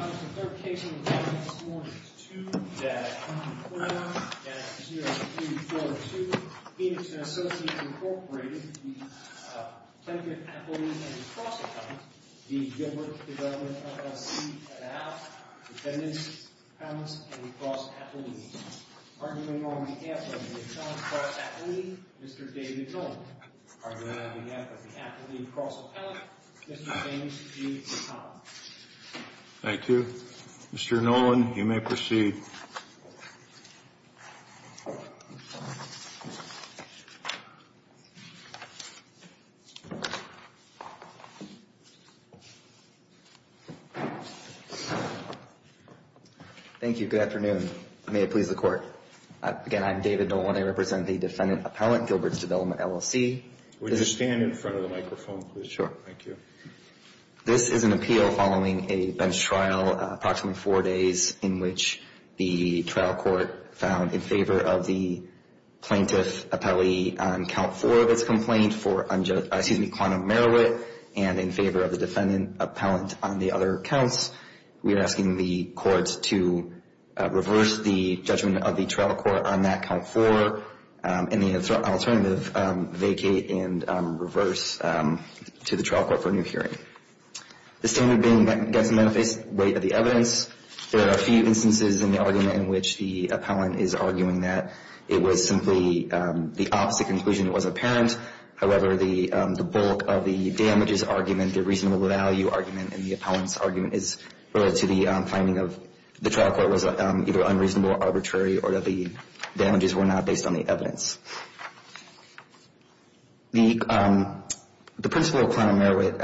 On the third case we were talking this morning, it's 2-4-0-0-2-4-2. Phoenix & Associates, Inc. v. Templeton Athlete & Cross Athlete, v. Gilbert Development, LLC At out, attendance, accounts, and cross athlete. Arguing on behalf of the accounts cross athlete, Mr. David Jones. Arguing on behalf of the athlete cross athlete, Mr. James G. Thomas. Thank you. Mr. Nolan, you may proceed. Thank you. Good afternoon. May it please the court. Again, I'm David Nolan. I represent the defendant appellant, Gilbert's Development, LLC. Would you stand in front of the microphone, please? Sure. Thank you. This is an appeal following a bench trial, approximately four days, in which the trial court found in favor of the plaintiff appellee on count four of its complaint for, excuse me, quantum merit and in favor of the defendant appellant on the other counts. We are asking the courts to reverse the judgment of the trial court on that count four and the alternative vacate and reverse to the trial court for a new hearing. The standard being against the manifest weight of the evidence. There are a few instances in the argument in which the appellant is arguing that it was simply the opposite conclusion. It was apparent. However, the bulk of the damages argument, the reasonable value argument, and the appellant's argument is related to the finding of the trial court was either unreasonable, arbitrary, or that the damages were not based on the evidence. The principle of quantum merit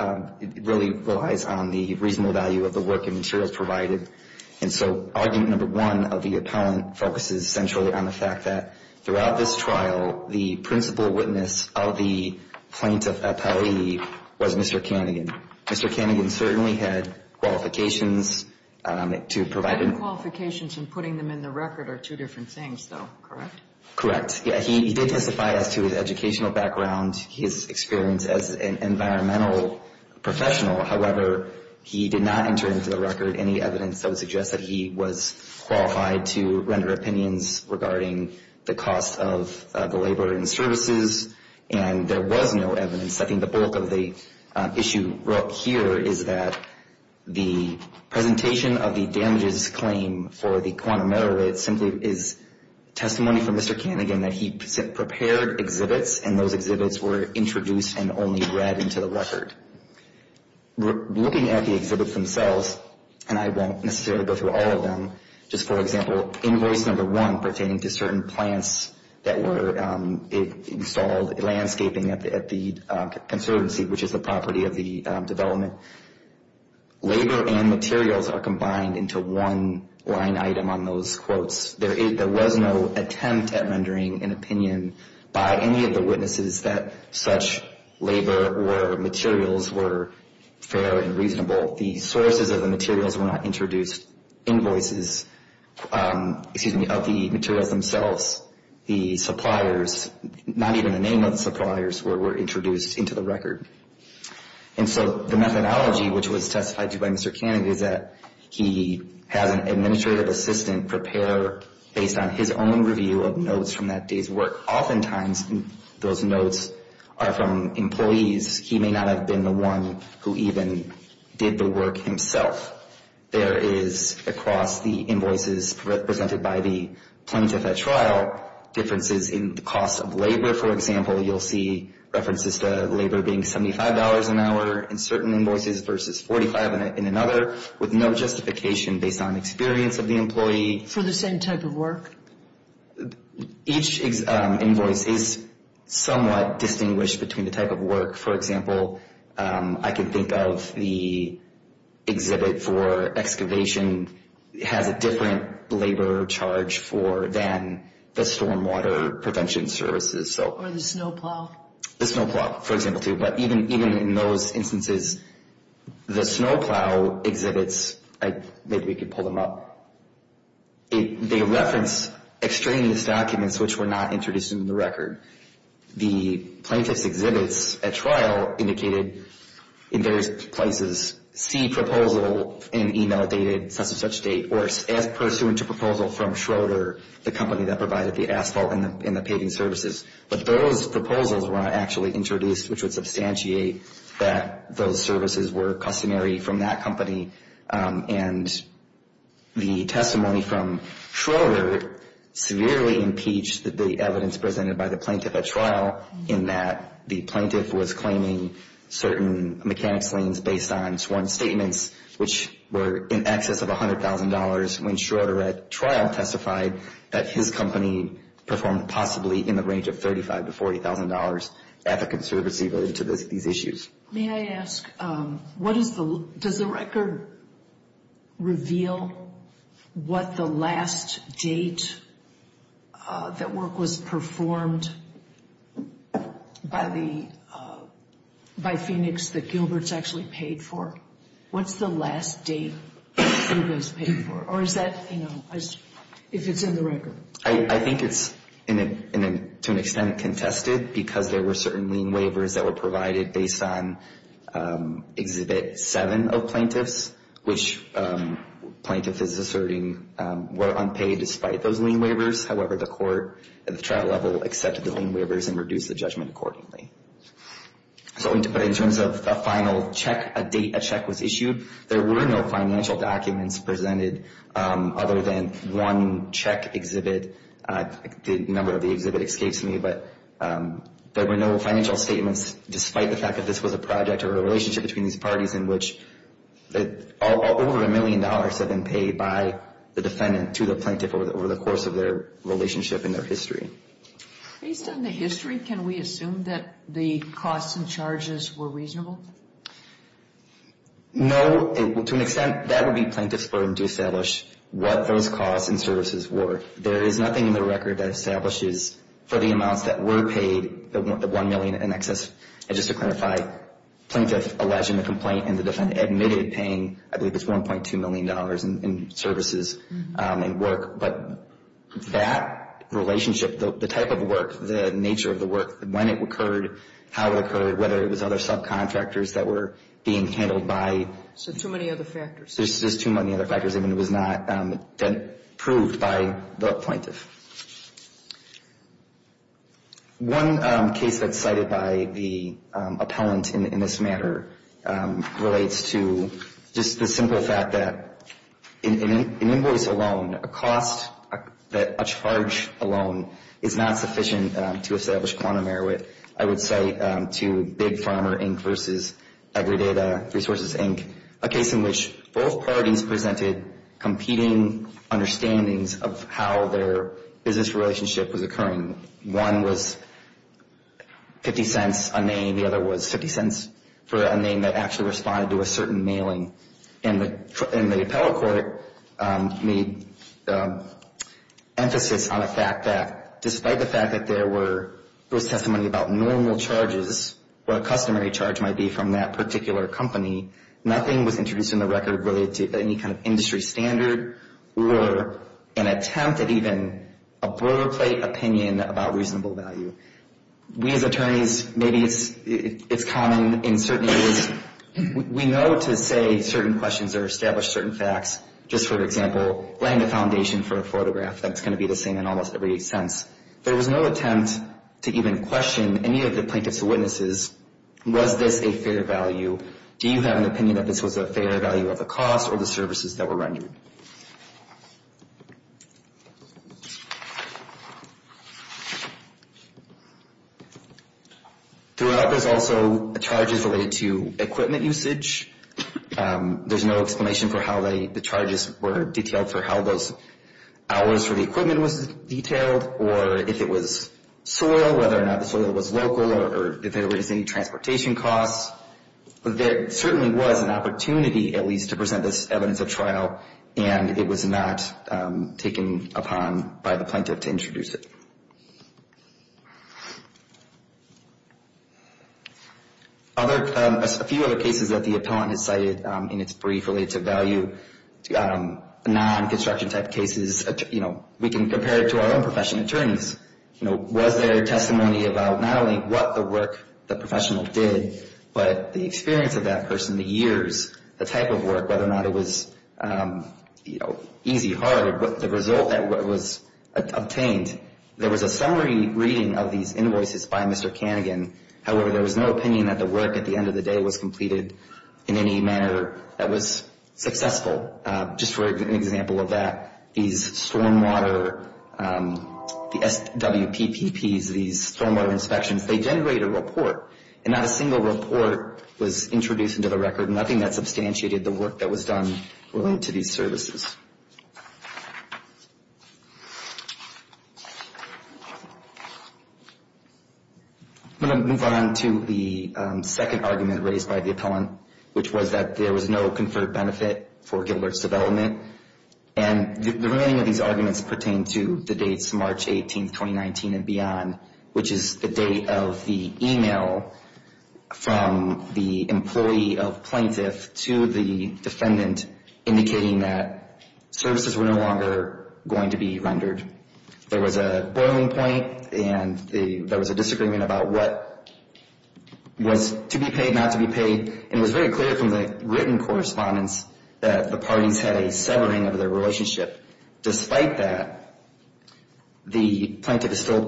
really relies on the reasonable value of the work and materials provided. And so argument number one of the appellant focuses centrally on the fact that throughout this trial, the principal witness of the plaintiff appellee was Mr. Cannigan. Mr. Cannigan certainly had qualifications to provide him. His qualifications in putting them in the record are two different things, though, correct? Correct. Yeah, he did testify as to his educational background, his experience as an environmental professional. However, he did not enter into the record any evidence that would suggest that he was qualified to render opinions regarding the cost of the labor and services, and there was no evidence. I think the bulk of the issue here is that the presentation of the damages claim for the quantum merit simply is testimony from Mr. Cannigan that he prepared exhibits, and those exhibits were introduced and only read into the record. Looking at the exhibits themselves, and I won't necessarily go through all of them, just for example, invoice number one pertaining to certain plants that were installed landscaping at the conservancy, which is the property of the development. Labor and materials are combined into one line item on those quotes. There was no attempt at rendering an opinion by any of the witnesses that such labor or materials were fair and reasonable. The sources of the materials were not introduced, invoices, excuse me, of the materials themselves. The suppliers, not even the name of the suppliers, were introduced into the record. And so the methodology which was testified to by Mr. Cannigan is that he has an administrative assistant prepare, based on his own review of notes from that day's work. Oftentimes those notes are from employees. He may not have been the one who even did the work himself. There is, across the invoices presented by the plaintiff at trial, differences in the cost of labor. For example, you'll see references to labor being $75 an hour in certain invoices versus $45 in another, with no justification based on experience of the employee. For the same type of work? Each invoice is somewhat distinguished between the type of work. For example, I can think of the exhibit for excavation has a different labor charge for than the stormwater prevention services. Or the snowplow. The snowplow, for example, too. But even in those instances, the snowplow exhibits, maybe we could pull them up. They reference extraneous documents which were not introduced in the record. The plaintiff's exhibits at trial indicated in various places, see proposal in email dated such and such date, or as pursuant to proposal from Schroeder, the company that provided the asphalt and the paving services. But those proposals were not actually introduced, which would substantiate that those services were customary from that company. And the testimony from Schroeder severely impeached the evidence presented by the plaintiff at trial, in that the plaintiff was claiming certain mechanics liens based on sworn statements, which were in excess of $100,000 when Schroeder at trial testified that his company performed possibly in the range of $35,000 to $40,000 at the conservancy related to these issues. May I ask, what is the, does the record reveal what the last date that work was performed by the, by Phoenix that Gilbert's actually paid for? What's the last date that it was paid for? Or is that, you know, if it's in the record? I think it's to an extent contested because there were certain lien waivers that were provided based on exhibit 7 of plaintiffs, which plaintiff is asserting were unpaid despite those lien waivers. However, the court at the trial level accepted the lien waivers and reduced the judgment accordingly. So in terms of a final check, a date a check was issued, there were no financial documents presented other than one check exhibit. The number of the exhibit escapes me, but there were no financial statements despite the fact that this was a project or a relationship between these parties in which over a million dollars had been paid by the defendant to the plaintiff over the course of their relationship and their history. Based on the history, can we assume that the costs and charges were reasonable? No. To an extent, that would be plaintiff's burden to establish what those costs and services were. There is nothing in the record that establishes for the amounts that were paid, the 1 million in excess. And just to clarify, plaintiff alleging the complaint and the defendant admitted paying, I believe it's $1.2 million in services and work. But that relationship, the type of work, the nature of the work, when it occurred, how it occurred, whether it was other subcontractors that were being handled by. So too many other factors. There's too many other factors. I mean, it was not proved by the plaintiff. One case that's cited by the appellant in this matter relates to just the simple fact that an invoice alone, a cost that a charge alone is not sufficient to establish quantum merit. I would cite to Big Farmer, Inc. versus AgriData Resources, Inc., a case in which both parties presented competing understandings of how their business relationship was occurring. One was 50 cents a name. The other was 50 cents for a name that actually responded to a certain mailing. And the appellate court made emphasis on the fact that despite the fact that there was testimony about normal charges or a customary charge might be from that particular company, nothing was introduced in the record related to any kind of industry standard or an attempt at even a boilerplate opinion about reasonable value. We as attorneys, maybe it's common in certain areas. We know to say certain questions or establish certain facts, just for example, laying the foundation for a photograph that's going to be the same in almost every sense. There was no attempt to even question any of the plaintiff's witnesses. Was this a fair value? Do you have an opinion that this was a fair value of the cost or the services that were rendered? Throughout, there's also charges related to equipment usage. There's no explanation for how the charges were detailed, for how those hours for the equipment was detailed, or if it was soil, whether or not the soil was local, or if there was any transportation costs. There certainly was an opportunity, at least, to present this evidence at trial, and it was not taken upon by the plaintiff to introduce it. A few other cases that the appellant has cited in its brief related to value, non-construction type cases, we can compare it to our own professional attorneys. Was there testimony about not only what the work the professional did, but the experience of that person, the years, the type of work, whether or not it was easy, hard, the result that was obtained. There was a summary reading of these invoices by Mr. Kanigan. However, there was no opinion that the work, at the end of the day, was completed in any manner that was successful. Just for an example of that, these stormwater, the SWPPPs, these stormwater inspections, they generate a report, and not a single report was introduced into the record, nothing that substantiated the work that was done related to these services. I'm going to move on to the second argument raised by the appellant, which was that there was no conferred benefit for Gilbert's development. And the remaining of these arguments pertain to the dates March 18, 2019 and beyond, which is the date of the email from the employee of plaintiff to the defendant indicating that services were no longer going to be rendered. There was a boiling point, and there was a disagreement about what was to be paid, not to be paid, and it was very clear from the written correspondence that the parties had a severing of their relationship. Despite that, the plaintiff is still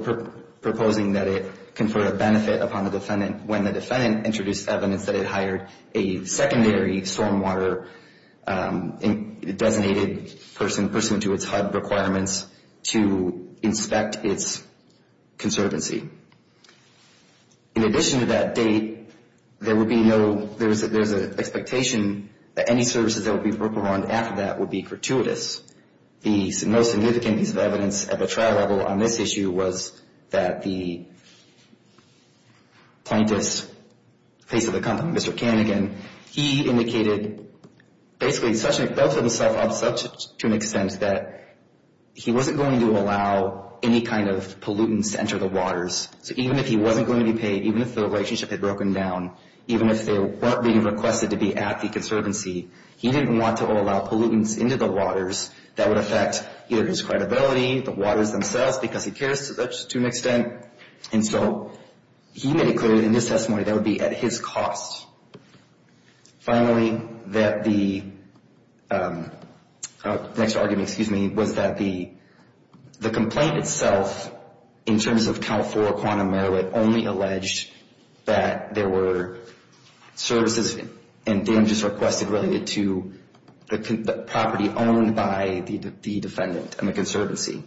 proposing that it confer a benefit upon the defendant when the defendant introduced evidence that it hired a secondary stormwater designated person, pursuant to its HUD requirements, to inspect its conservancy. In addition to that date, there was an expectation that any services that would be worked upon after that would be gratuitous. The most significant piece of evidence at the trial level on this issue was that the plaintiff's face of the company, Mr. Kanigan, he indicated basically felt to himself to an extent that he wasn't going to allow any kind of pollutants to enter the waters. So even if he wasn't going to be paid, even if the relationship had broken down, even if they weren't being requested to be at the conservancy, he didn't want to allow pollutants into the waters that would affect either his credibility, the waters themselves, because he cares to an extent. And so he made it clear in his testimony that it would be at his cost. Finally, that the next argument, excuse me, was that the complaint itself, in terms of Cal-4 quantum merit, only alleged that there were services and damages requested related to the property owned by the defendant and the conservancy.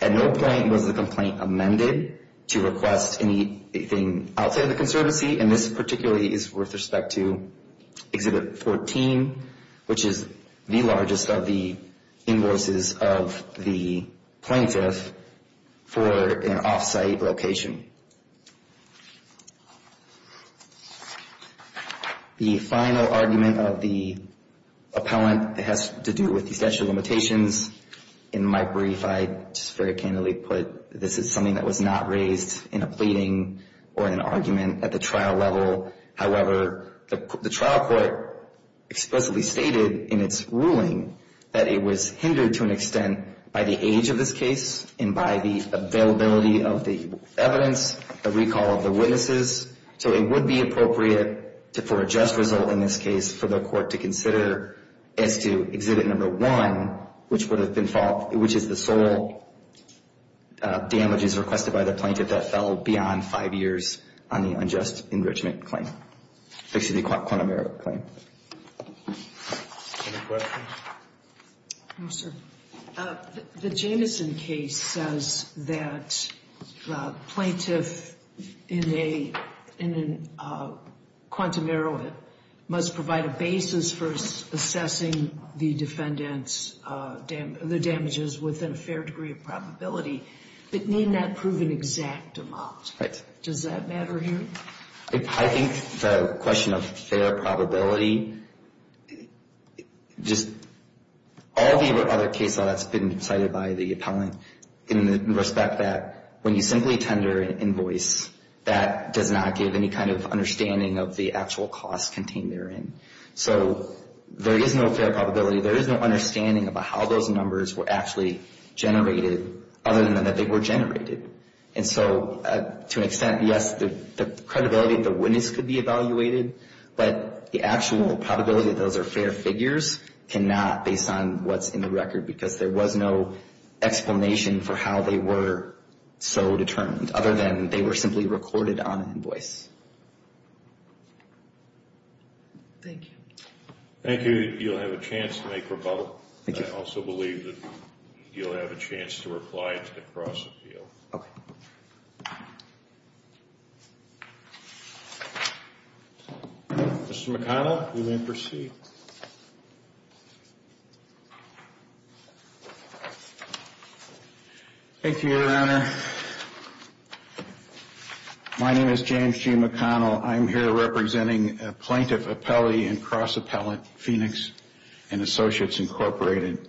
At no point was the complaint amended to request anything outside of the conservancy, and this particularly is with respect to Exhibit 14, which is the largest of the invoices of the plaintiff for an off-site location. The final argument of the appellant has to do with the statute of limitations. In my brief, I just very candidly put this is something that was not raised in a pleading or in an argument at the trial level. However, the trial court explicitly stated in its ruling that it was hindered to an extent by the age of this case and by the availability of the evidence, the recall of the witnesses. So it would be appropriate for a just result in this case for the court to consider as to Exhibit No. 1, which is the sole damages requested by the plaintiff that fell beyond five years on the unjust enrichment claim, which is the quantum merit claim. Any questions? No, sir. The Jamison case says that the plaintiff in a quantum merit must provide a basis for assessing the defendant's damages within a fair degree of probability, but need not prove an exact amount. Right. Does that matter here? I think the question of fair probability, just all the other cases that's been cited by the appellant in the respect that when you simply tender an invoice, that does not give any kind of understanding of the actual cost contained therein. So there is no fair probability. There is no understanding about how those numbers were actually generated, other than that they were generated. And so to an extent, yes, the credibility of the witness could be evaluated, but the actual probability that those are fair figures cannot, based on what's in the record, because there was no explanation for how they were so determined, other than they were simply recorded on an invoice. Thank you. Thank you. You'll have a chance to make rebuttal. I also believe that you'll have a chance to reply to the cross-appeal. Okay. Mr. McConnell, you may proceed. Thank you, Your Honor. Your Honor, my name is James G. McConnell. I'm here representing a plaintiff appellee and cross-appellant, Phoenix & Associates, Incorporated.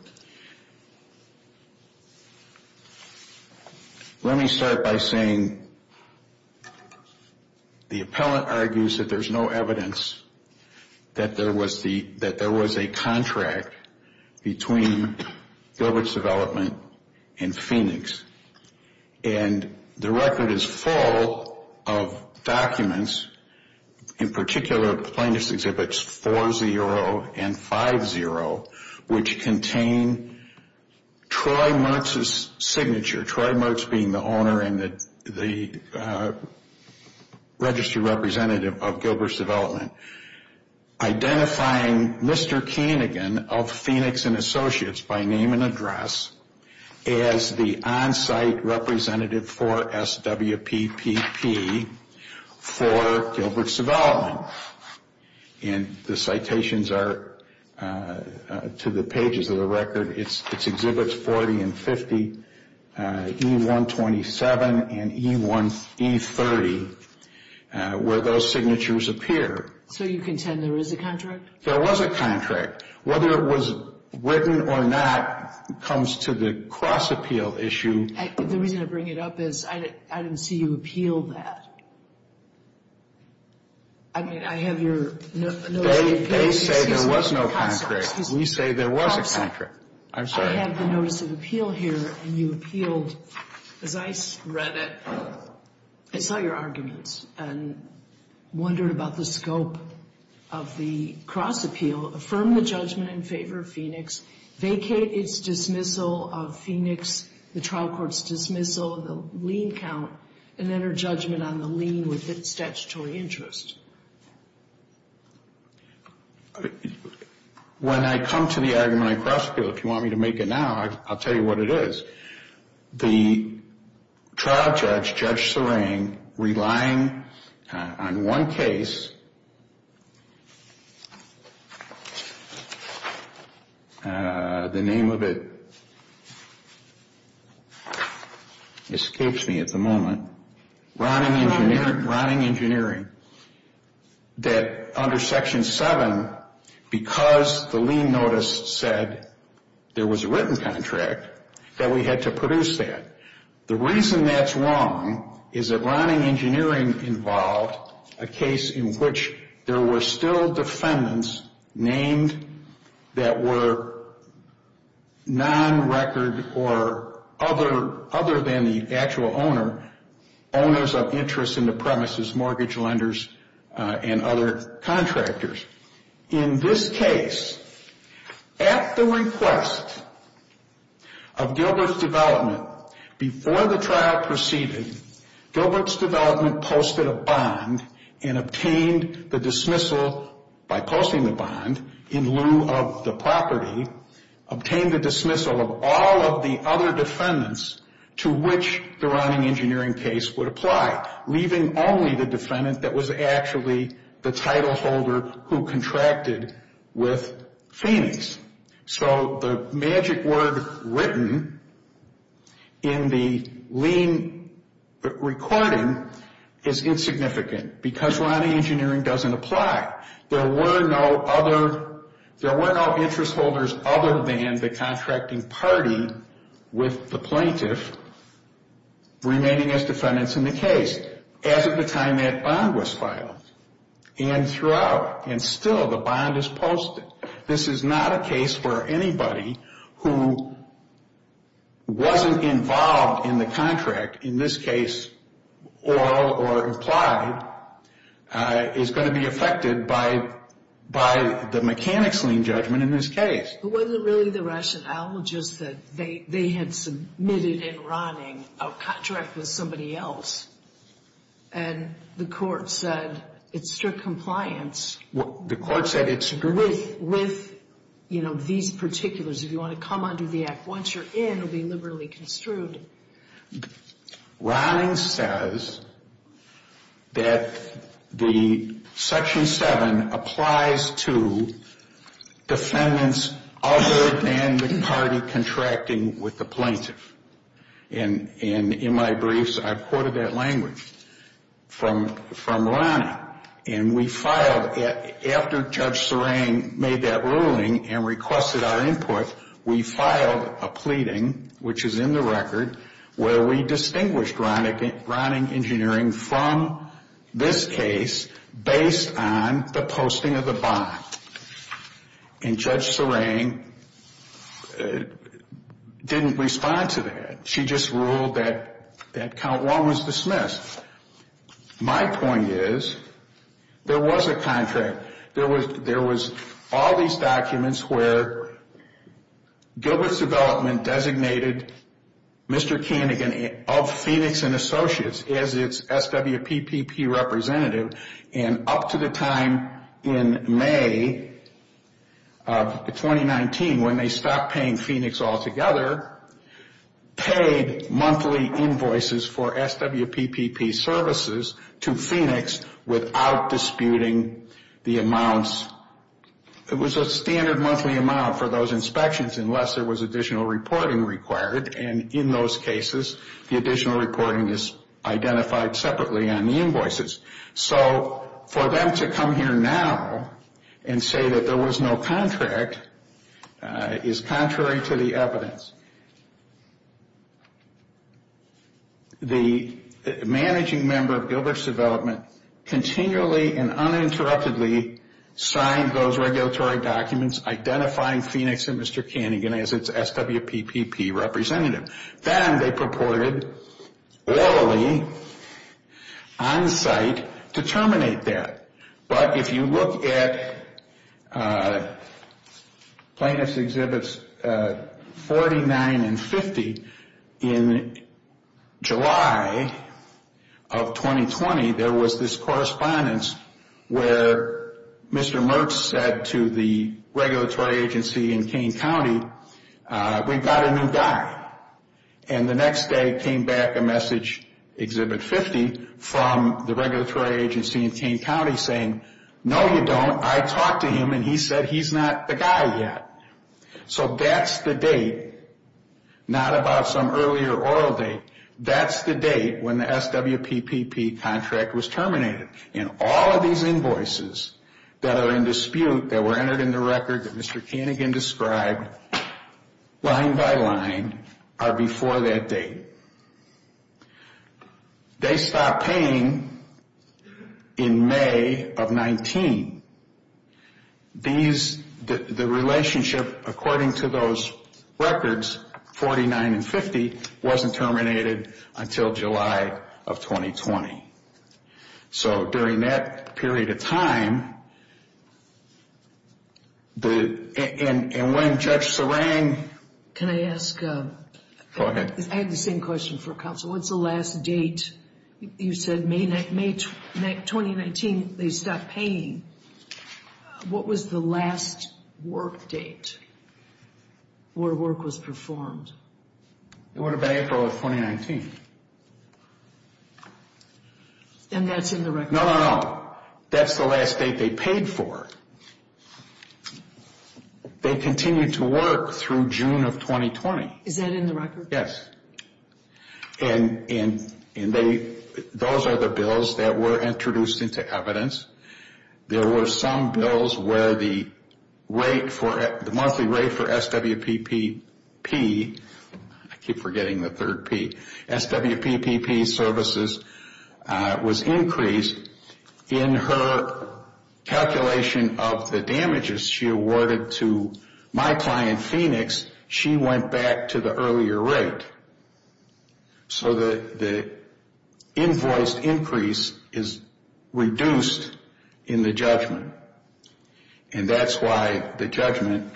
Let me start by saying the appellant argues that there's no evidence that there was a contract between Gilbert's Development and Phoenix. And the record is full of documents, in particular plaintiff's exhibits 4-0 and 5-0, which contain Troy Mertz's signature, Troy Mertz being the owner and the registry representative of Gilbert's Development, identifying Mr. Keenegan of Phoenix & Associates, by name and address, as the on-site representative for SWPPP for Gilbert's Development. And the citations are to the pages of the record. It's Exhibits 40 and 50, E-127 and E-30, where those signatures appear. So you contend there is a contract? There was a contract. Whether it was written or not comes to the cross-appeal issue. The reason I bring it up is I didn't see you appeal that. I mean, I have your notes. They say there was no contract. We say there was a contract. I'm sorry. I have the notice of appeal here, and you appealed. As I read it, I saw your arguments and wondered about the scope of the cross-appeal. Affirm the judgment in favor of Phoenix, vacate its dismissal of Phoenix, the trial court's dismissal, the lien count, and enter judgment on the lien with its statutory interest. When I come to the argument I cross-appeal, if you want me to make it now, I'll tell you what it is. The trial judge, Judge Serang, relying on one case, the name of it escapes me at the moment. Ronning Engineering, that under Section 7, because the lien notice said there was a written contract, that we had to produce that. The reason that's wrong is that Ronning Engineering involved a case in which there were still defendants named that were non-record or other than the actual owner, owners of interest in the premises, mortgage lenders, and other contractors. In this case, at the request of Gilbert's development, before the trial proceeded, Gilbert's development posted a bond and obtained the dismissal, by posting the bond in lieu of the property, obtained the dismissal of all of the other defendants to which the Ronning Engineering case would apply, leaving only the defendant that was actually the title holder who contracted with Phoenix. So the magic word written in the lien recording is insignificant, because Ronning Engineering doesn't apply. There were no other, there were no interest holders other than the contracting party with the plaintiff remaining as defendants in the case, as of the time that bond was filed. And throughout, and still, the bond is posted. This is not a case where anybody who wasn't involved in the contract, in this case, oral or implied, is going to be affected by the mechanics lien judgment in this case. But wasn't it really the rationale just that they had submitted in Ronning a contract with somebody else? And the court said it's strict compliance with these particulars. If you want to come under the act once you're in, it will be liberally construed. Ronning says that the Section 7 applies to defendants other than the party contracting with the plaintiff. And in my briefs, I've quoted that language from Ronning. And we filed, after Judge Serang made that ruling and requested our input, we filed a pleading, which is in the record, where we distinguished Ronning Engineering from this case based on the posting of the bond. And Judge Serang didn't respond to that. She just ruled that count 1 was dismissed. My point is, there was a contract. There was all these documents where Gilbert's Development designated Mr. Kanigan of Phoenix & Associates as its SWPPP representative. And up to the time in May of 2019, when they stopped paying Phoenix altogether, paid monthly invoices for SWPPP services to Phoenix without disputing the amounts. It was a standard monthly amount for those inspections unless there was additional reporting required. And in those cases, the additional reporting is identified separately on the invoices. So for them to come here now and say that there was no contract is contrary to the evidence. The managing member of Gilbert's Development continually and uninterruptedly signed those regulatory documents identifying Phoenix and Mr. Kanigan as its SWPPP representative. Then they purported, orally, on-site, to terminate that. But if you look at Plaintiffs' Exhibits 49 and 50, in July of 2020, there was this correspondence where Mr. Mertz said to the regulatory agency in Kane County, we've got a new guy. And the next day came back a message, Exhibit 50, from the regulatory agency in Kane County saying, no you don't, I talked to him and he said he's not the guy yet. So that's the date, not about some earlier oral date, that's the date when the SWPPP contract was terminated. And all of these invoices that are in dispute, that were entered in the record that Mr. Kanigan described, line by line, are before that date. They stopped paying in May of 19. The relationship, according to those records, 49 and 50, wasn't terminated until July of 2020. So during that period of time, and when Judge Serang... Can I ask... Go ahead. I have the same question for counsel. What's the last date? You said May 2019, they stopped paying. What was the last work date where work was performed? It would have been April of 2019. And that's in the record? No, no, no. That's the last date they paid for. They continued to work through June of 2020. Is that in the record? Yes. And those are the bills that were introduced into evidence. There were some bills where the monthly rate for SWPPP... I keep forgetting the third P. SWPPP services was increased. In her calculation of the damages she awarded to my client, Phoenix, she went back to the earlier rate. So the invoice increase is reduced in the judgment. And that's why the judgment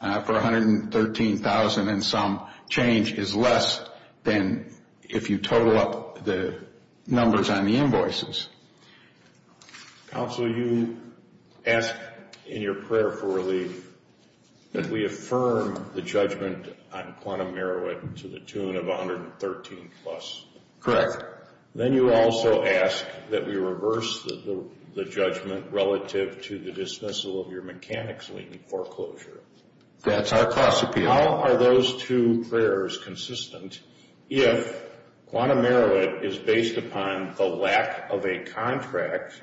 for $113,000 and some change is less than if you total up the numbers on the invoices. Counsel, you ask in your prayer for relief that we affirm the judgment on Quantum Merowith to the tune of $113,000 plus. Correct. Then you also ask that we reverse the judgment relative to the dismissal of your mechanics lien foreclosure. That's our cost appeal. How are those two prayers consistent if Quantum Merowith is based upon the lack of a contract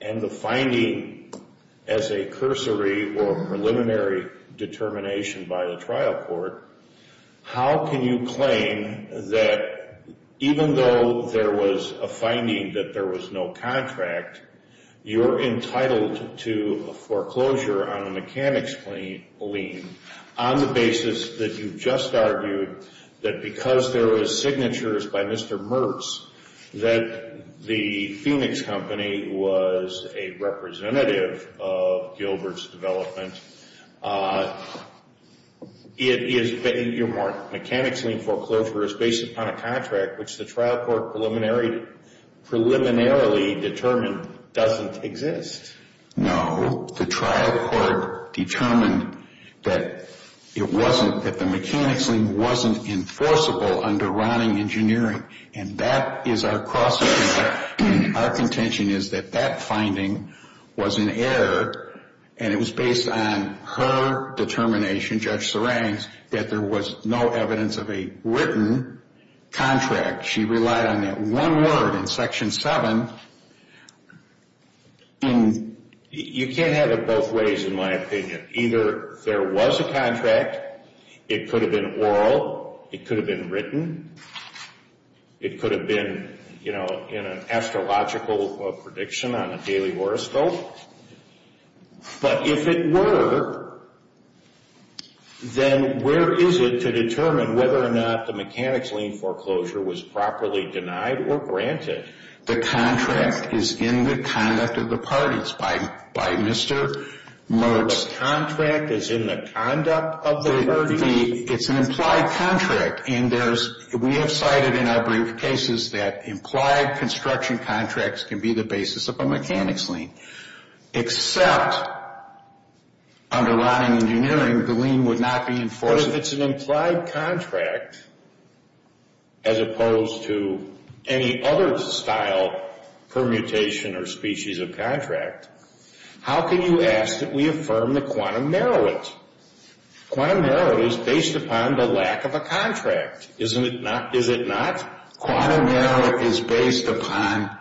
and the finding as a cursory or preliminary determination by the trial court, how can you claim that even though there was a finding that there was no contract, you're entitled to a foreclosure on a mechanics lien on the basis that you just argued that because there was signatures by Mr. Mertz that the Phoenix company was a representative of Gilbert's development. Your mechanics lien foreclosure is based upon a contract which the trial court preliminarily determined doesn't exist. No. The trial court determined that it wasn't, that the mechanics lien wasn't enforceable under Ronning Engineering. And that is our cost appeal. Our contention is that that finding was an error and it was based on her determination, Judge Serang's, that there was no evidence of a written contract. She relied on that one word in Section 7. You can't have it both ways in my opinion. Either there was a contract, it could have been oral, it could have been written, it could have been, you know, in an astrological prediction on a daily horoscope. But if it were, then where is it to determine whether or not the mechanics lien foreclosure was properly denied or granted? The contract is in the conduct of the parties by Mr. Mertz. The contract is in the conduct of the parties? It's an implied contract. And we have cited in our brief cases that implied construction contracts can be the basis of a mechanics lien. Except under Ronning Engineering, the lien would not be enforceable. But if it's an implied contract, as opposed to any other style, permutation, or species of contract, how can you ask that we affirm the quantum narrow it? Quantum narrow it is based upon the lack of a contract. Isn't it not? Is it not? Quantum narrow it is based upon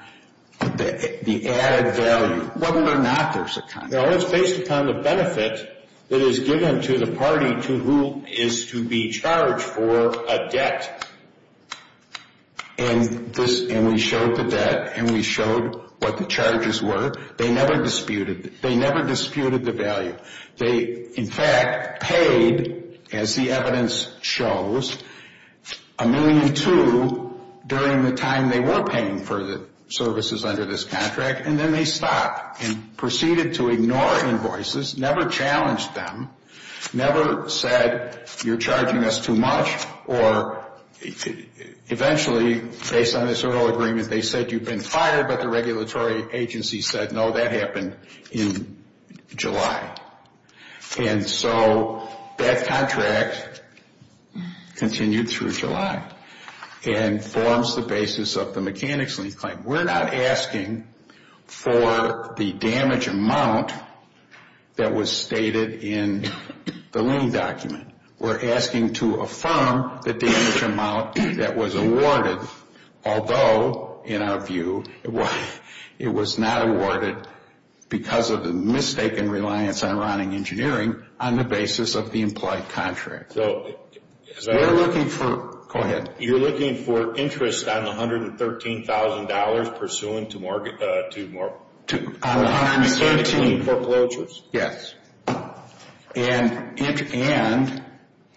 the added value. Whether or not there's a contract. No, it's based upon the benefit that is given to the party to who is to be charged for a debt. And we showed the debt and we showed what the charges were. They never disputed the value. They, in fact, paid, as the evidence shows, a million two during the time they were paying for the services under this contract, and then they stopped and proceeded to ignore invoices, never challenged them, never said, you're charging us too much, or eventually, based on this oral agreement, they said, you've been fired, but the regulatory agency said, no, that happened in July. And so that contract continued through July and forms the basis of the mechanics lien claim. We're not asking for the damage amount that was stated in the lien document. We're asking to affirm the damage amount that was awarded, although, in our view, it was not awarded because of the mistaken reliance on Ronning Engineering on the basis of the implied contract. So we're looking for, go ahead. You're looking for interest on the $113,000 pursuant to mortgage, to mortgage. On the $113,000. Between foreclosures. Yes, and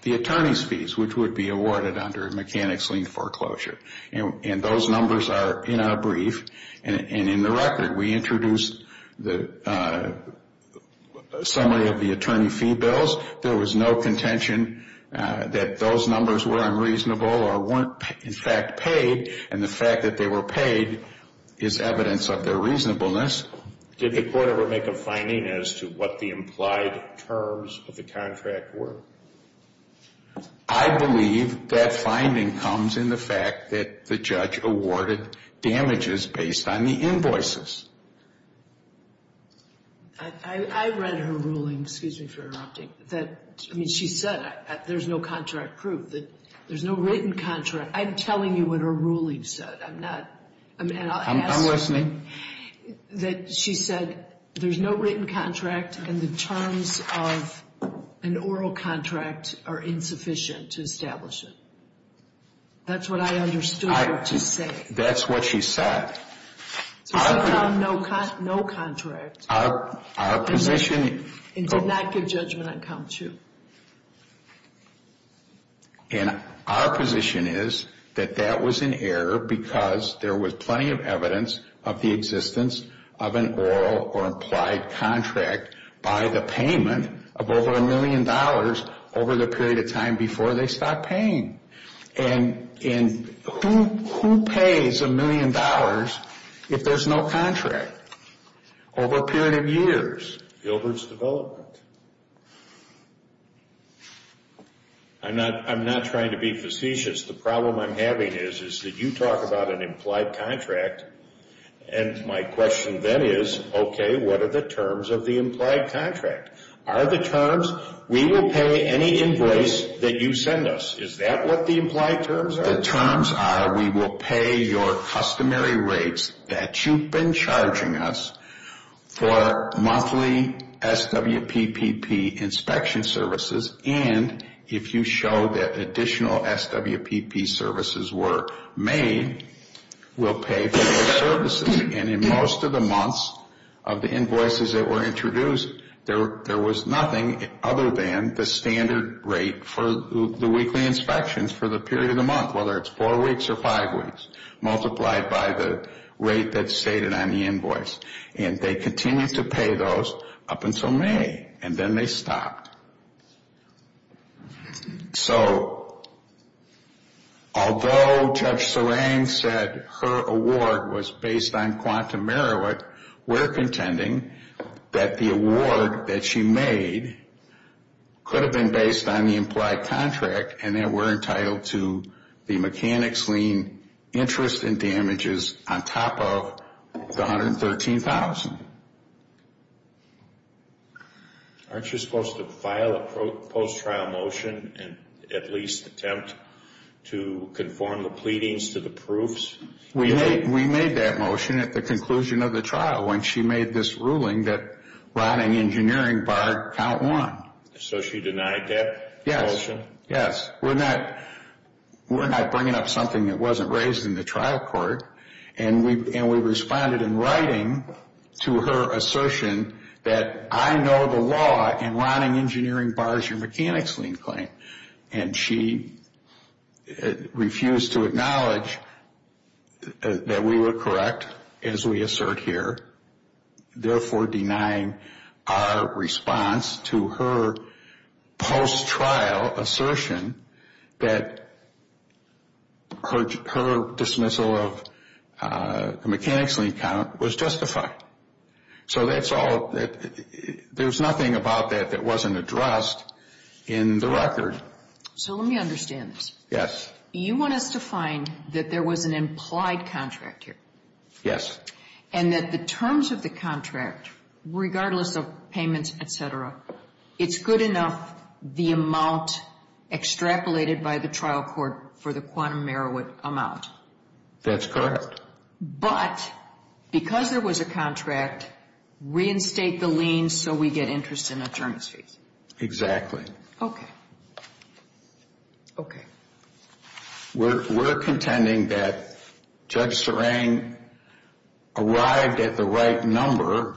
the attorney's fees, which would be awarded under a mechanics lien foreclosure. And those numbers are in our brief and in the record. We introduced the summary of the attorney fee bills. There was no contention that those numbers were unreasonable or weren't, in fact, paid, and the fact that they were paid is evidence of their reasonableness. Did the court ever make a finding as to what the implied terms of the contract were? I believe that finding comes in the fact that the judge awarded damages based on the invoices. I read her ruling. Excuse me for interrupting. I mean, she said there's no contract proof. There's no written contract. I'm telling you what her ruling said. I'm not. I'm listening. That she said there's no written contract and the terms of an oral contract are insufficient to establish it. That's what I understood her to say. That's what she said. So she found no contract. Our position. And did not give judgment on count two. And our position is that that was an error because there was plenty of evidence of the existence of an oral or implied contract by the payment of over a million dollars over the period of time before they stopped paying. And who pays a million dollars if there's no contract over a period of years? Gilbert's development. I'm not trying to be facetious. The problem I'm having is that you talk about an implied contract, and my question then is, okay, what are the terms of the implied contract? Are the terms, we will pay any invoice that you send us. Is that what the implied terms are? We will pay your customary rates that you've been charging us for monthly SWPPP inspection services. And if you show that additional SWPP services were made, we'll pay for those services. And in most of the months of the invoices that were introduced, there was nothing other than the standard rate for the weekly inspections for the period of the month, whether it's four weeks or five weeks, multiplied by the rate that's stated on the invoice. And they continued to pay those up until May. And then they stopped. So although Judge Serang said her award was based on quantum merit, we're contending that the award that she made could have been based on the implied contract and that we're entitled to the mechanics lien interest and damages on top of the $113,000. Aren't you supposed to file a post-trial motion and at least attempt to conform the pleadings to the proofs? We made that motion at the conclusion of the trial when she made this ruling that rotting engineering bar count one. So she denied that motion? We're not bringing up something that wasn't raised in the trial court. And we responded in writing to her assertion that I know the law and rotting engineering bars your mechanics lien claim. And she refused to acknowledge that we were correct as we assert here, therefore denying our response to her post-trial assertion that her dismissal of the mechanics lien count was justified. So there's nothing about that that wasn't addressed in the record. So let me understand this. Yes. You want us to find that there was an implied contract here. Yes. And that the terms of the contract, regardless of payments, et cetera, it's good enough the amount extrapolated by the trial court for the quantum merit amount. That's correct. But because there was a contract, reinstate the liens so we get interest in attorneys' fees. Exactly. Okay. Okay. We're contending that Judge Serang arrived at the right number.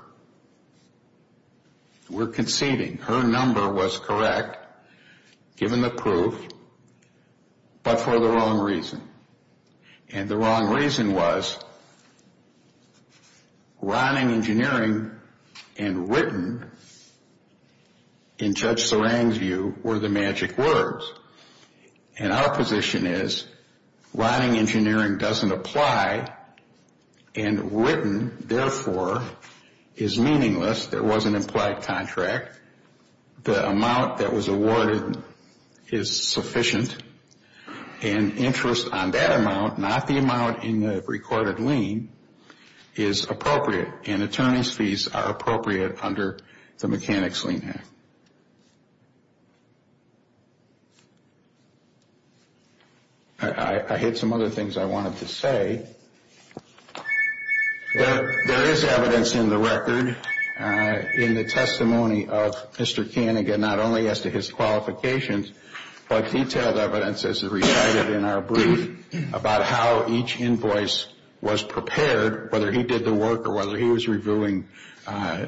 We're conceding her number was correct, given the proof, but for the wrong reason. And the wrong reason was rotting engineering and written in Judge Serang's view were the magic words. And our position is rotting engineering doesn't apply and written, therefore, is meaningless. There was an implied contract. The amount that was awarded is sufficient, and interest on that amount, not the amount in the recorded lien, is appropriate, and attorneys' fees are appropriate under the Mechanics Lien Act. I had some other things I wanted to say. There is evidence in the record in the testimony of Mr. Kaniga, not only as to his qualifications, but detailed evidence, as recited in our brief, about how each invoice was prepared, whether he did the work or whether he was reviewing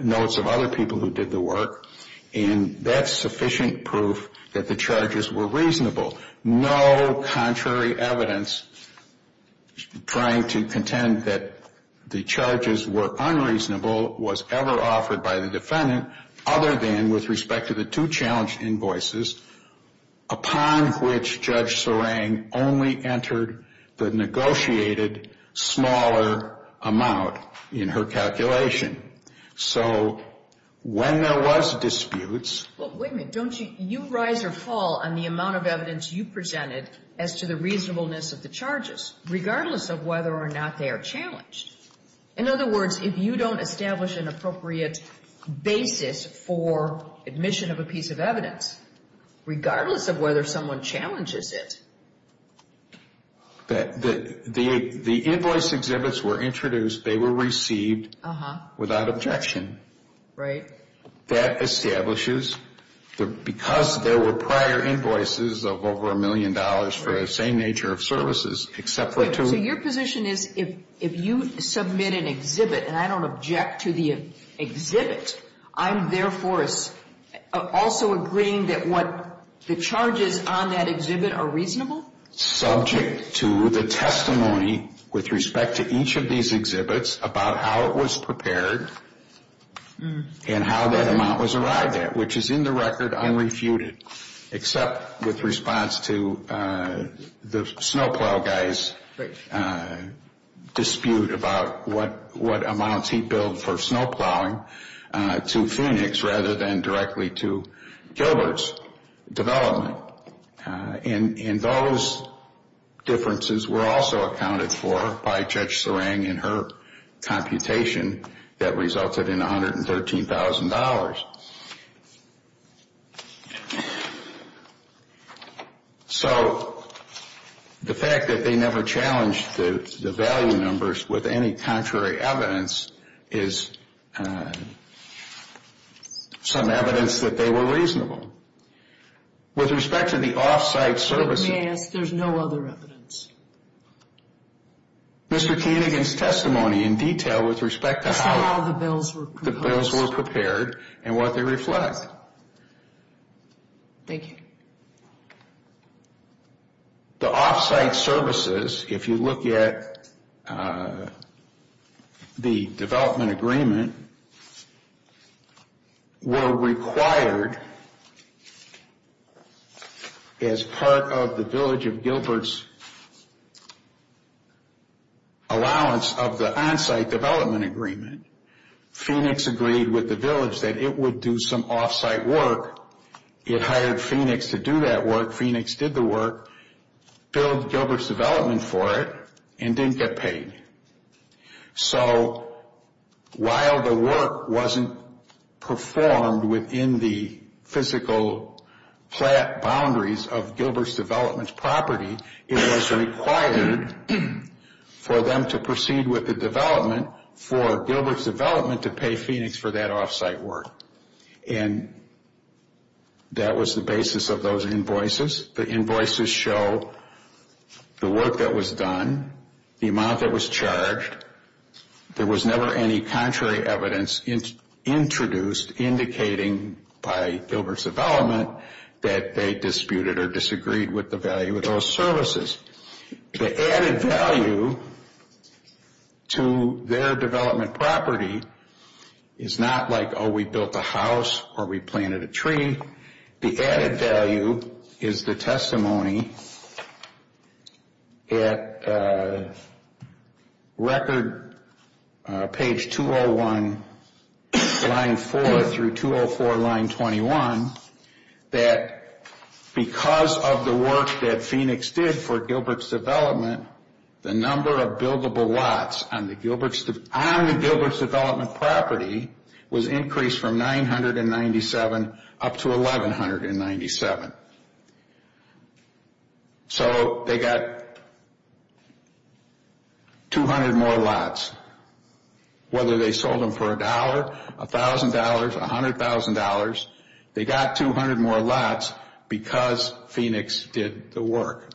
notes of other people who did the work. And that's sufficient proof that the charges were reasonable. No contrary evidence trying to contend that the charges were unreasonable was ever offered by the defendant other than with respect to the two challenged invoices upon which Judge Serang only entered the negotiated smaller amount in her calculation. So when there was disputes — as to the reasonableness of the charges, regardless of whether or not they are challenged. In other words, if you don't establish an appropriate basis for admission of a piece of evidence, regardless of whether someone challenges it. The invoice exhibits were introduced. They were received without objection. Right. That establishes, because there were prior invoices of over a million dollars for the same nature of services, except for two — So your position is if you submit an exhibit, and I don't object to the exhibit, I'm therefore also agreeing that what the charges on that exhibit are reasonable? Subject to the testimony with respect to each of these exhibits about how it was prepared and how that amount was arrived at, which is in the record unrefuted, except with response to the snowplow guy's dispute about what amounts he billed for snowplowing to Phoenix rather than directly to Gilbert's development. And those differences were also accounted for by Judge Serang in her computation that resulted in $113,000. So the fact that they never challenged the value numbers with any contrary evidence is some evidence that they were reasonable. With respect to the off-site services — May I ask, there's no other evidence? Mr. Koenig and his testimony in detail with respect to how the bills were prepared and what they reflect. Thank you. The off-site services, if you look at the development agreement, were required as part of the Village of Gilbert's allowance of the on-site development agreement. Phoenix agreed with the Village that it would do some off-site work. It hired Phoenix to do that work. Phoenix did the work, billed Gilbert's development for it, and didn't get paid. So while the work wasn't performed within the physical boundaries of Gilbert's development property, it was required for them to proceed with the development for Gilbert's development to pay Phoenix for that off-site work. And that was the basis of those invoices. The invoices show the work that was done, the amount that was charged. There was never any contrary evidence introduced indicating by Gilbert's development that they disputed or disagreed with the value of those services. The added value to their development property is not like, oh, we built a house or we planted a tree. The added value is the testimony at record page 201, line 4 through 204, line 21, that because of the work that Phoenix did for Gilbert's development, the number of buildable lots on the Gilbert's development property was increased from 997 up to 1197. So they got 200 more lots. Whether they sold them for a dollar, $1,000, $100,000, they got 200 more lots because Phoenix did the work.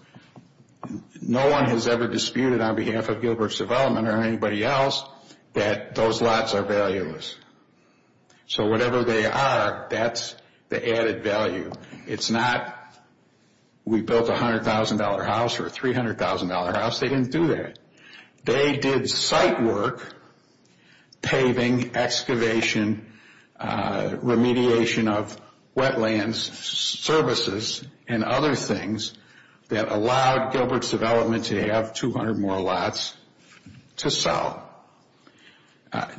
No one has ever disputed on behalf of Gilbert's development or anybody else that those lots are valueless. So whatever they are, that's the added value. It's not we built a $100,000 house or a $300,000 house. They didn't do that. They did site work, paving, excavation, remediation of wetlands, services, and other things that allowed Gilbert's development to have 200 more lots to sell.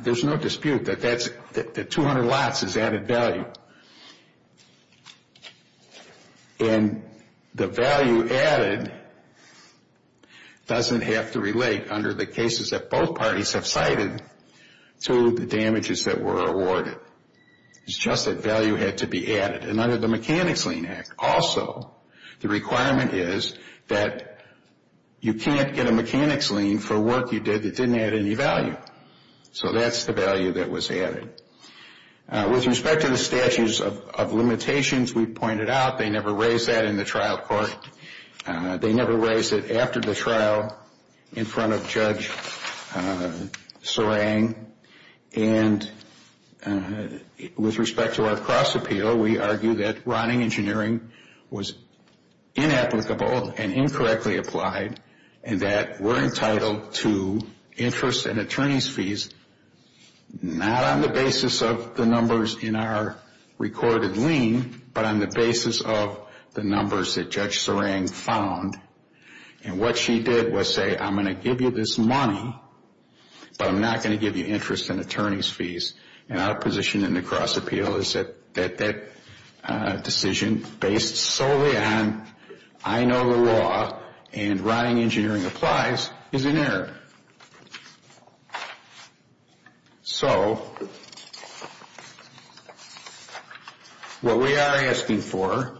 There's no dispute that 200 lots is added value. And the value added doesn't have to relate under the cases that both parties have cited to the damages that were awarded. It's just that value had to be added. And under the Mechanics Lien Act also, the requirement is that you can't get a mechanics lien for work you did that didn't add any value. So that's the value that was added. With respect to the statutes of limitations, we pointed out they never raised that in the trial court. They never raised it after the trial in front of Judge Serang. And with respect to our cross-appeal, we argue that rotting engineering was inapplicable and incorrectly applied and that we're entitled to interest and attorney's fees not on the basis of the numbers in our recorded lien, but on the basis of the numbers that Judge Serang found. And what she did was say, I'm going to give you this money, but I'm not going to give you interest and attorney's fees. And our position in the cross-appeal is that that decision based solely on I know the law and rotting engineering applies is inerrant. So what we are asking for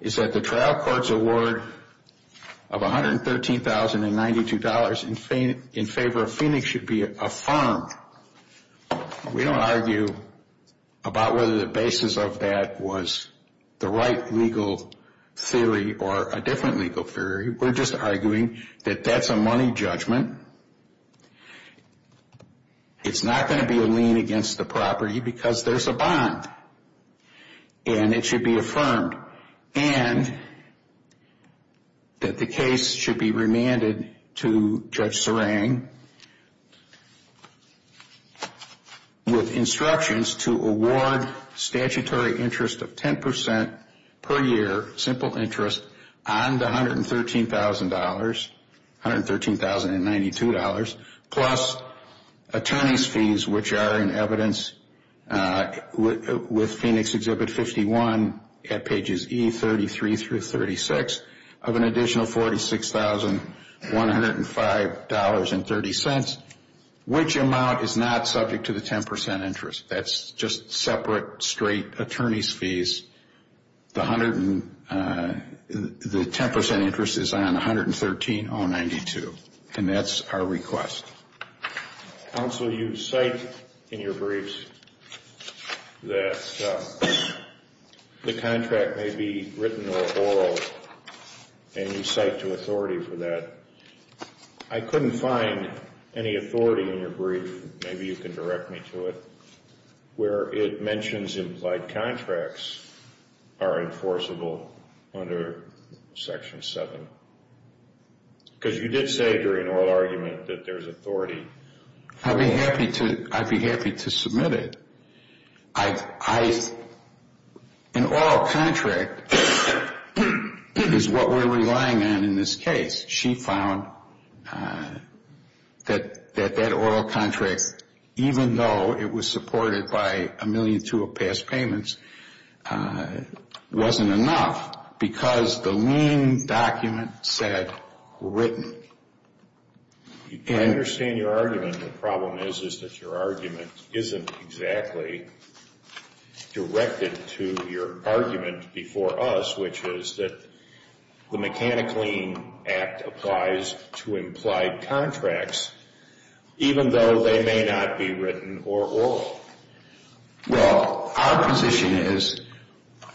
is that the trial court's award of $113,092 in favor of Phoenix should be affirmed. We don't argue about whether the basis of that was the right legal theory or a different legal theory. We're just arguing that that's a money judgment. It's not going to be a lien against the property because there's a bond, and it should be affirmed. And that the case should be remanded to Judge Serang with instructions to award statutory interest of 10% per year, simple interest, on the $113,092 plus attorney's fees, which are in evidence with Phoenix Exhibit 51 at pages E33 through 36, of an additional $46,105.30, which amount is not subject to the 10% interest. That's just separate straight attorney's fees. The 10% interest is on $113,092, and that's our request. Counsel, you cite in your briefs that the contract may be written or oral, and you cite to authority for that. I couldn't find any authority in your brief. Maybe you can direct me to it, where it mentions implied contracts are enforceable under Section 7, because you did say during oral argument that there's authority. I'd be happy to submit it. An oral contract is what we're relying on in this case. She found that that oral contract, even though it was supported by a million and two of past payments, wasn't enough because the lien document said written. I understand your argument. The problem is that your argument isn't exactly directed to your argument before us, which is that the Mechanic Lien Act applies to implied contracts, even though they may not be written or oral. Well, our position is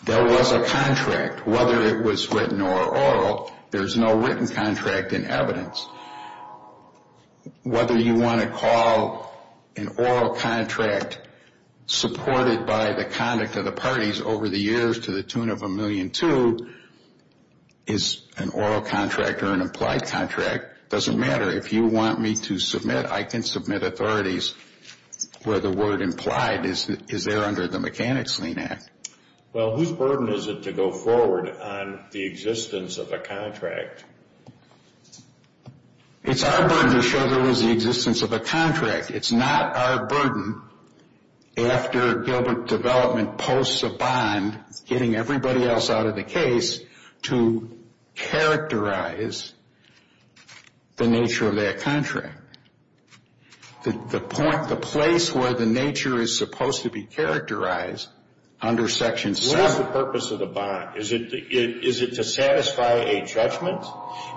there was a contract, whether it was written or oral. There's no written contract in evidence. Whether you want to call an oral contract supported by the conduct of the parties over the years to the tune of a million two is an oral contract or an implied contract. It doesn't matter. If you want me to submit, I can submit authorities where the word implied is there under the Mechanic's Lien Act. Well, whose burden is it to go forward on the existence of a contract? It's our burden to show there was the existence of a contract. It's not our burden after Gilbert Development posts a bond, getting everybody else out of the case, to characterize the nature of that contract. The point, the place where the nature is supposed to be characterized under Section 7. What is the purpose of the bond? Is it to satisfy a judgment?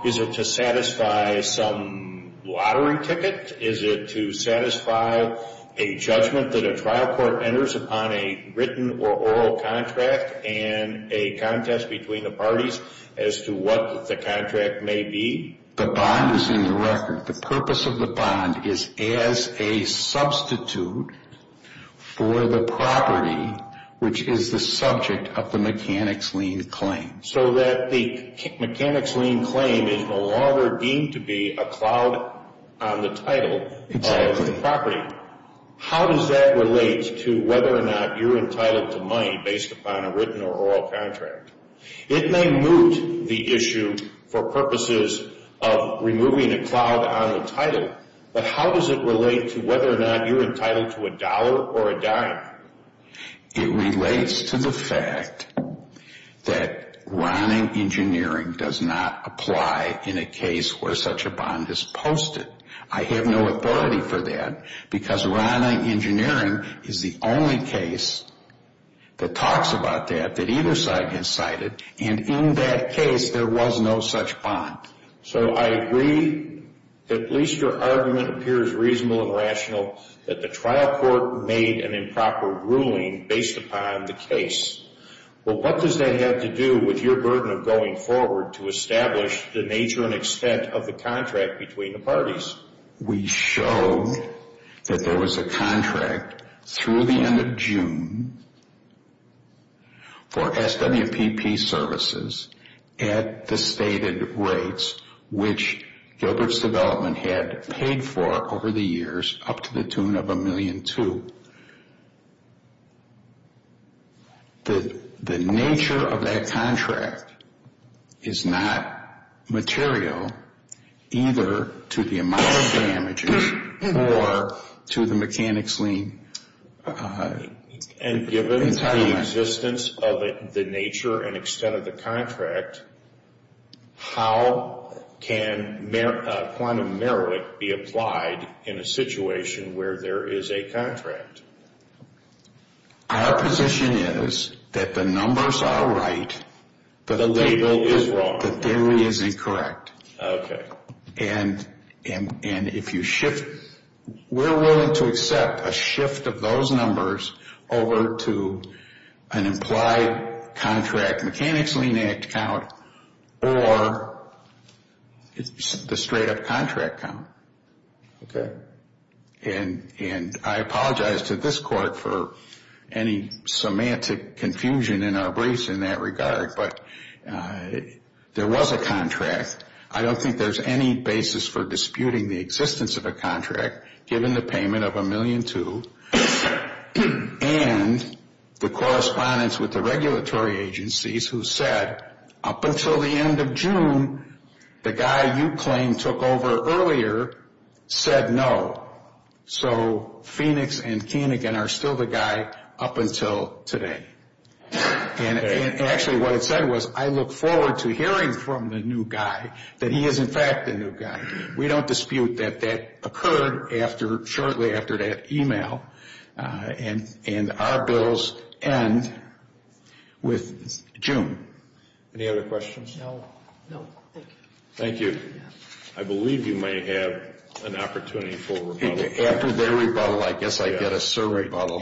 Is it to satisfy some lottery ticket? Is it to satisfy a judgment that a trial court enters upon a written or oral contract and a contest between the parties as to what the contract may be? The bond is in the record. The purpose of the bond is as a substitute for the property, which is the subject of the Mechanic's Lien claim. So that the Mechanic's Lien claim is no longer deemed to be a cloud on the title of the property. How does that relate to whether or not you're entitled to money based upon a written or oral contract? It may moot the issue for purposes of removing a cloud on the title, but how does it relate to whether or not you're entitled to a dollar or a dime? It relates to the fact that Ronning Engineering does not apply in a case where such a bond is posted. I have no authority for that because Ronning Engineering is the only case that talks about that, that either side has cited, and in that case, there was no such bond. So I agree that at least your argument appears reasonable and rational that the trial court made an improper ruling based upon the case. Well, what does that have to do with your burden of going forward to establish the nature and extent of the contract between the parties? We showed that there was a contract through the end of June for SWPP services at the stated rates which Gilbert's Development had paid for over the years up to the tune of $1.2 million. The nature of that contract is not material either to the amount of damages or to the mechanics lien entitlement. Given the existence of the nature and extent of the contract, how can quantum merit be applied in a situation where there is a contract? Our position is that the numbers are right, but the theory is incorrect. Okay. And if you shift, we're willing to accept a shift of those numbers over to an implied contract mechanics lien act count or the straight-up contract count. Okay. And I apologize to this court for any semantic confusion in our briefs in that regard, but there was a contract. I don't think there's any basis for disputing the existence of a contract given the payment of $1.2 million and the correspondence with the regulatory agencies who said up until the end of June, the guy you claim took over earlier said no. So Phoenix and Keenegan are still the guy up until today. Okay. And actually what it said was I look forward to hearing from the new guy that he is in fact the new guy. We don't dispute that that occurred shortly after that email, and our bills end with June. Any other questions? No. No, thank you. Thank you. I believe you may have an opportunity for rebuttal. After their rebuttal, I guess I get a survey rebuttal.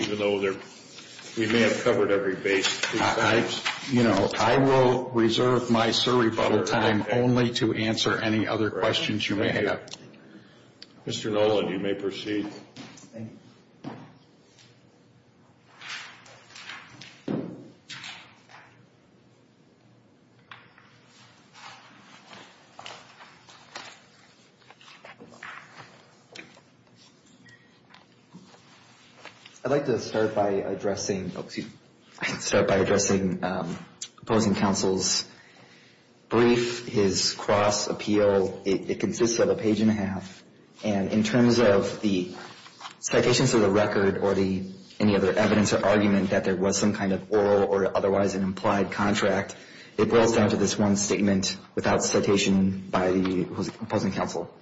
We may have covered every base. I will reserve my survey rebuttal time only to answer any other questions you may have. Mr. Nolan, you may proceed. Thank you. I'd like to start by addressing opposing counsel's brief, his cross appeal. It consists of a page and a half, and in terms of the citations of the record or any other evidence or argument that there was some kind of oral or otherwise an implied contract, it boils down to this one statement without citation by the opposing counsel.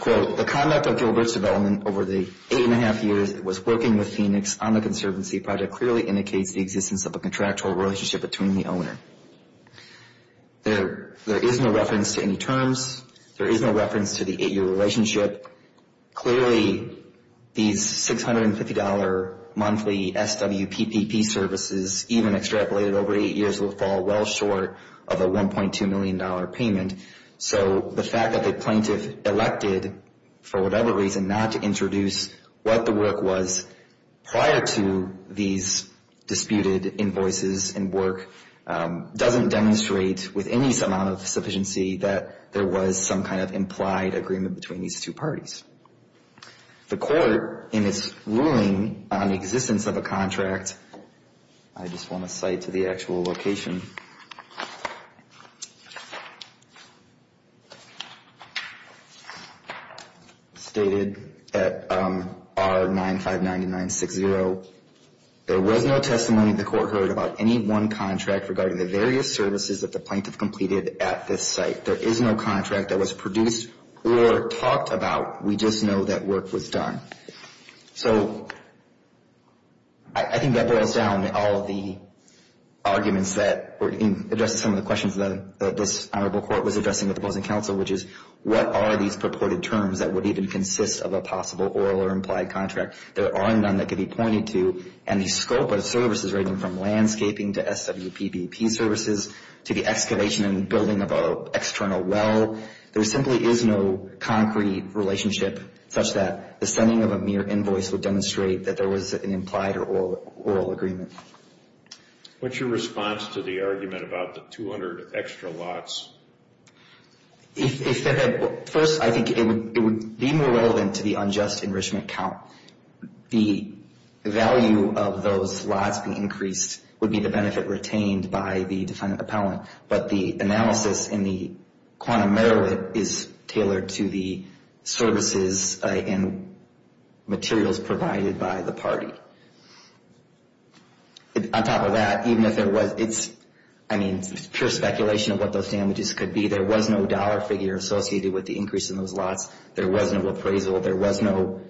Quote, the conduct of Gilbert's development over the eight and a half years it was working with Phoenix on the conservancy project clearly indicates the existence of a contractual relationship between the owner. There is no reference to any terms. There is no reference to the eight-year relationship. Clearly, these $650 monthly SWPPP services, even extrapolated over eight years, will fall well short of a $1.2 million payment. So the fact that the plaintiff elected for whatever reason not to introduce what the work was prior to these disputed invoices and work doesn't demonstrate with any amount of sufficiency that there was some kind of The court in its ruling on the existence of a contract, I just want to cite to the actual location. Stated at R959960, there was no testimony the court heard about any one contract regarding the various services that the plaintiff completed at this site. There is no contract that was produced or talked about. We just know that work was done. So I think that boils down to all of the arguments that were addressed in some of the questions that this honorable court was addressing with opposing counsel, which is what are these purported terms that would even consist of a possible oral or implied contract? There are none that could be pointed to. And the scope of services ranging from landscaping to SWPPP services to the excavation and building of an external well, there simply is no concrete relationship such that the sending of a mere invoice would demonstrate that there was an implied or oral agreement. What's your response to the argument about the 200 extra lots? First, I think it would be more relevant to the unjust enrichment count. The value of those lots being increased would be the benefit retained by the defendant appellant. But the analysis and the quantum error is tailored to the services and materials provided by the party. On top of that, even if there was, it's, I mean, pure speculation of what those damages could be. There was no dollar figure associated with the increase in those lots. There was no appraisal. There was no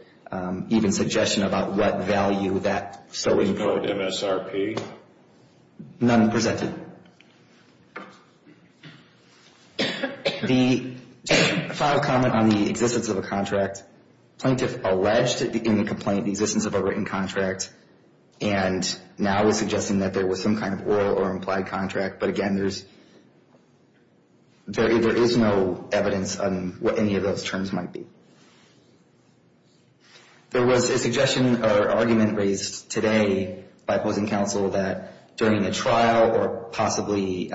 even suggestion about what value that so we could. No MSRP? None presented. The final comment on the existence of a contract. Plaintiff alleged in the complaint the existence of a written contract. And now is suggesting that there was some kind of oral or implied contract. But again, there is no evidence on what any of those terms might be. There was a suggestion or argument raised today by opposing counsel that during the trial or possibly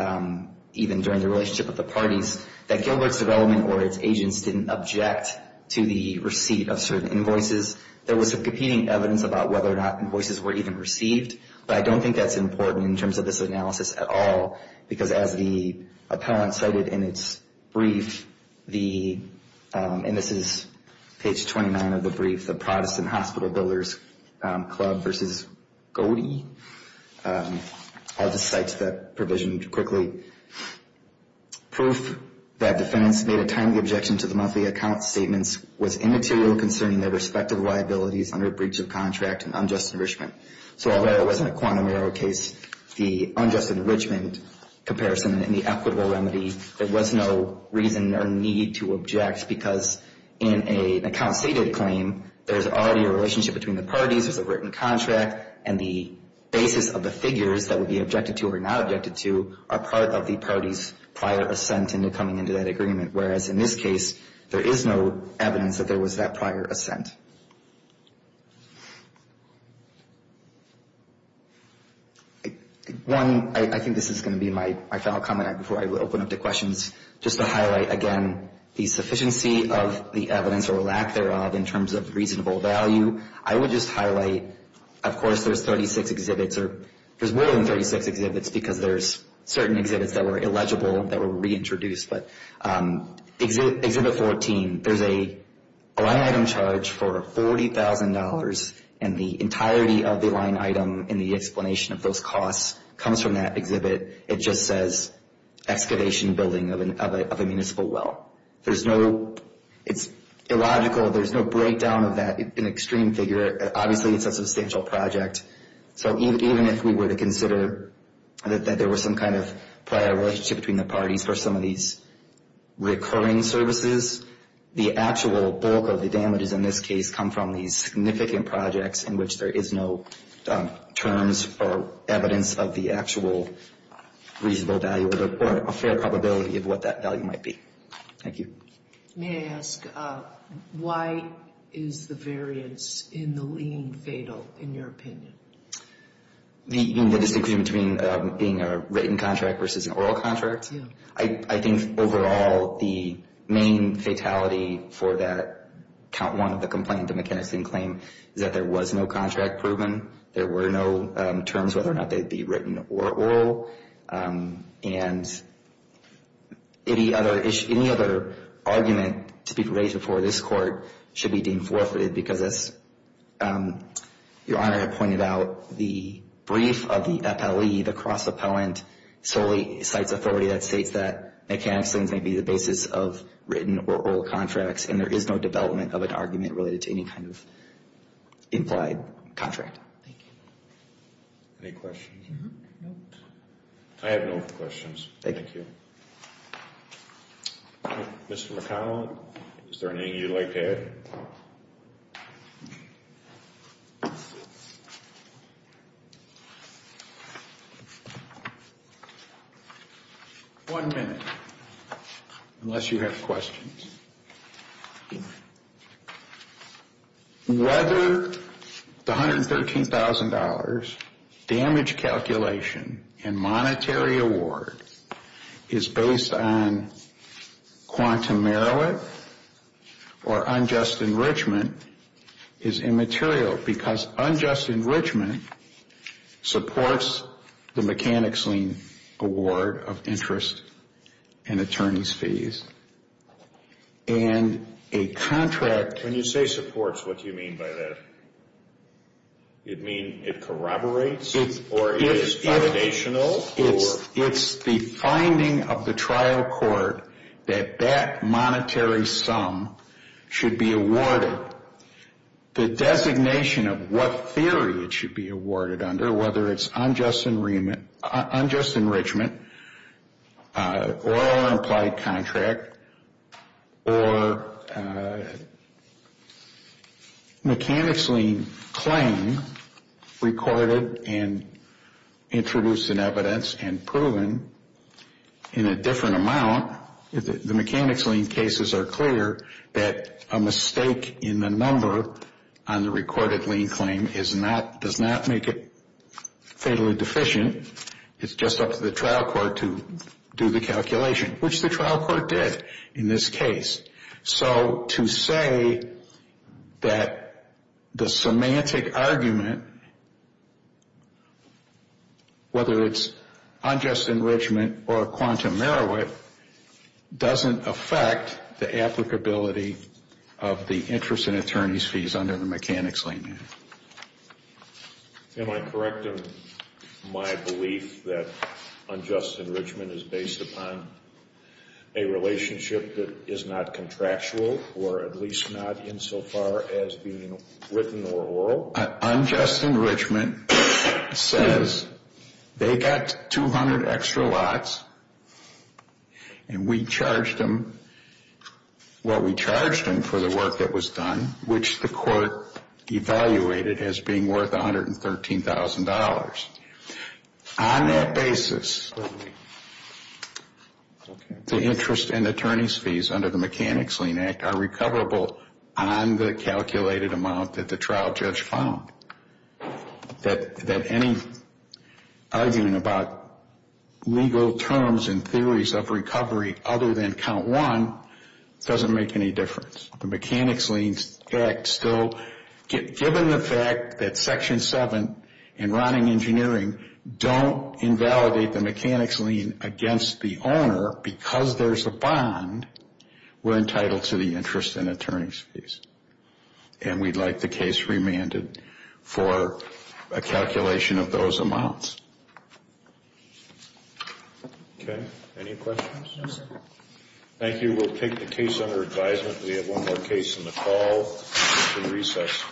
even during the relationship of the parties that Gilbert's development or its agents didn't object to the receipt of certain invoices. There was some competing evidence about whether or not invoices were even received. But I don't think that's important in terms of this analysis at all. Because as the appellant cited in its brief, the, and this is page 29 of the brief, the Protestant Hospital Builders Club v. Godey. I'll just cite that provision quickly. Proof that defendants made a timely objection to the monthly account statements was immaterial concerning their respective liabilities under a breach of contract and unjust enrichment. So although it wasn't a quantum error case, the unjust enrichment comparison and the equitable remedy, there was no reason or need to object. Because in an account stated claim, there's already a relationship between the parties, there's a written contract, and the basis of the figures that would be objected to or not objected to are part of the party's prior assent into coming into that agreement. Whereas in this case, there is no evidence that there was that prior assent. One, I think this is going to be my final comment before I open up to questions. Just to highlight, again, the sufficiency of the evidence or lack thereof in terms of reasonable value, I would just highlight, of course, there's 36 exhibits or there's more than 36 exhibits because there's certain exhibits that were illegible that were reintroduced. But Exhibit 14, there's a line item charge for $40,000, and the entirety of the line item in the explanation of those costs comes from that exhibit. It just says excavation building of a municipal well. It's illogical. There's no breakdown of that in extreme figure. Obviously, it's a substantial project. So even if we were to consider that there was some kind of prior relationship between the parties for some of these recurring services, the actual bulk of the damages in this case come from these significant projects in which there is no terms or evidence of the actual reasonable value or a fair probability of what that value might be. Thank you. May I ask, why is the variance in the lien fatal, in your opinion? The disagreement between being a written contract versus an oral contract? Yeah. I think overall the main fatality for that Count 1 of the complaint, the McKinnison claim, is that there was no contract proven. There were no terms whether or not they'd be written or oral. And any other argument to be raised before this Court should be deemed forfeited because as Your Honor had pointed out, the brief of the FLE, the cross-appellant, solely cites authority that states that McKinnison's may be the basis of written or oral contracts, and there is no development of an argument related to any kind of implied contract. Thank you. Any questions? I have no questions. Thank you. Mr. McConnell, is there anything you'd like to add? One minute, unless you have questions. Whether the $113,000 damage calculation and monetary award is based on quantum merit or unjust enrichment is immaterial because unjust enrichment supports the mechanics lien award of interest and attorney's fees. And a contract... When you say supports, what do you mean by that? You mean it corroborates or is foundational? It's the finding of the trial court that that monetary sum should be awarded. The designation of what theory it should be awarded under, whether it's unjust enrichment or an implied contract or mechanics lien claim recorded and introduced in evidence and proven in a different amount. The mechanics lien cases are clear that a mistake in the number on the recorded lien claim does not make it fatally deficient. It's just up to the trial court to do the calculation, which the trial court did in this case. So to say that the semantic argument, whether it's unjust enrichment or quantum merit, doesn't affect the applicability of the interest and attorney's fees under the mechanics lien. Am I correct in my belief that unjust enrichment is based upon a relationship that is not contractual or at least not insofar as being written or oral? An unjust enrichment says they got 200 extra lots and we charged them for the work that was done, which the court evaluated as being worth $113,000. On that basis, the interest and attorney's fees under the Mechanics Lien Act are recoverable on the calculated amount that the trial judge found. That any arguing about legal terms and theories of recovery other than count one doesn't make any difference. The Mechanics Lien Act still, given the fact that Section 7 and Rodding Engineering don't invalidate the mechanics lien against the owner because there's a bond, we're entitled to the interest and attorney's fees. And we'd like the case remanded for a calculation of those amounts. Okay. Any questions? No, sir. Thank you. We will take the case under advisement. We have one more case in the fall after recess.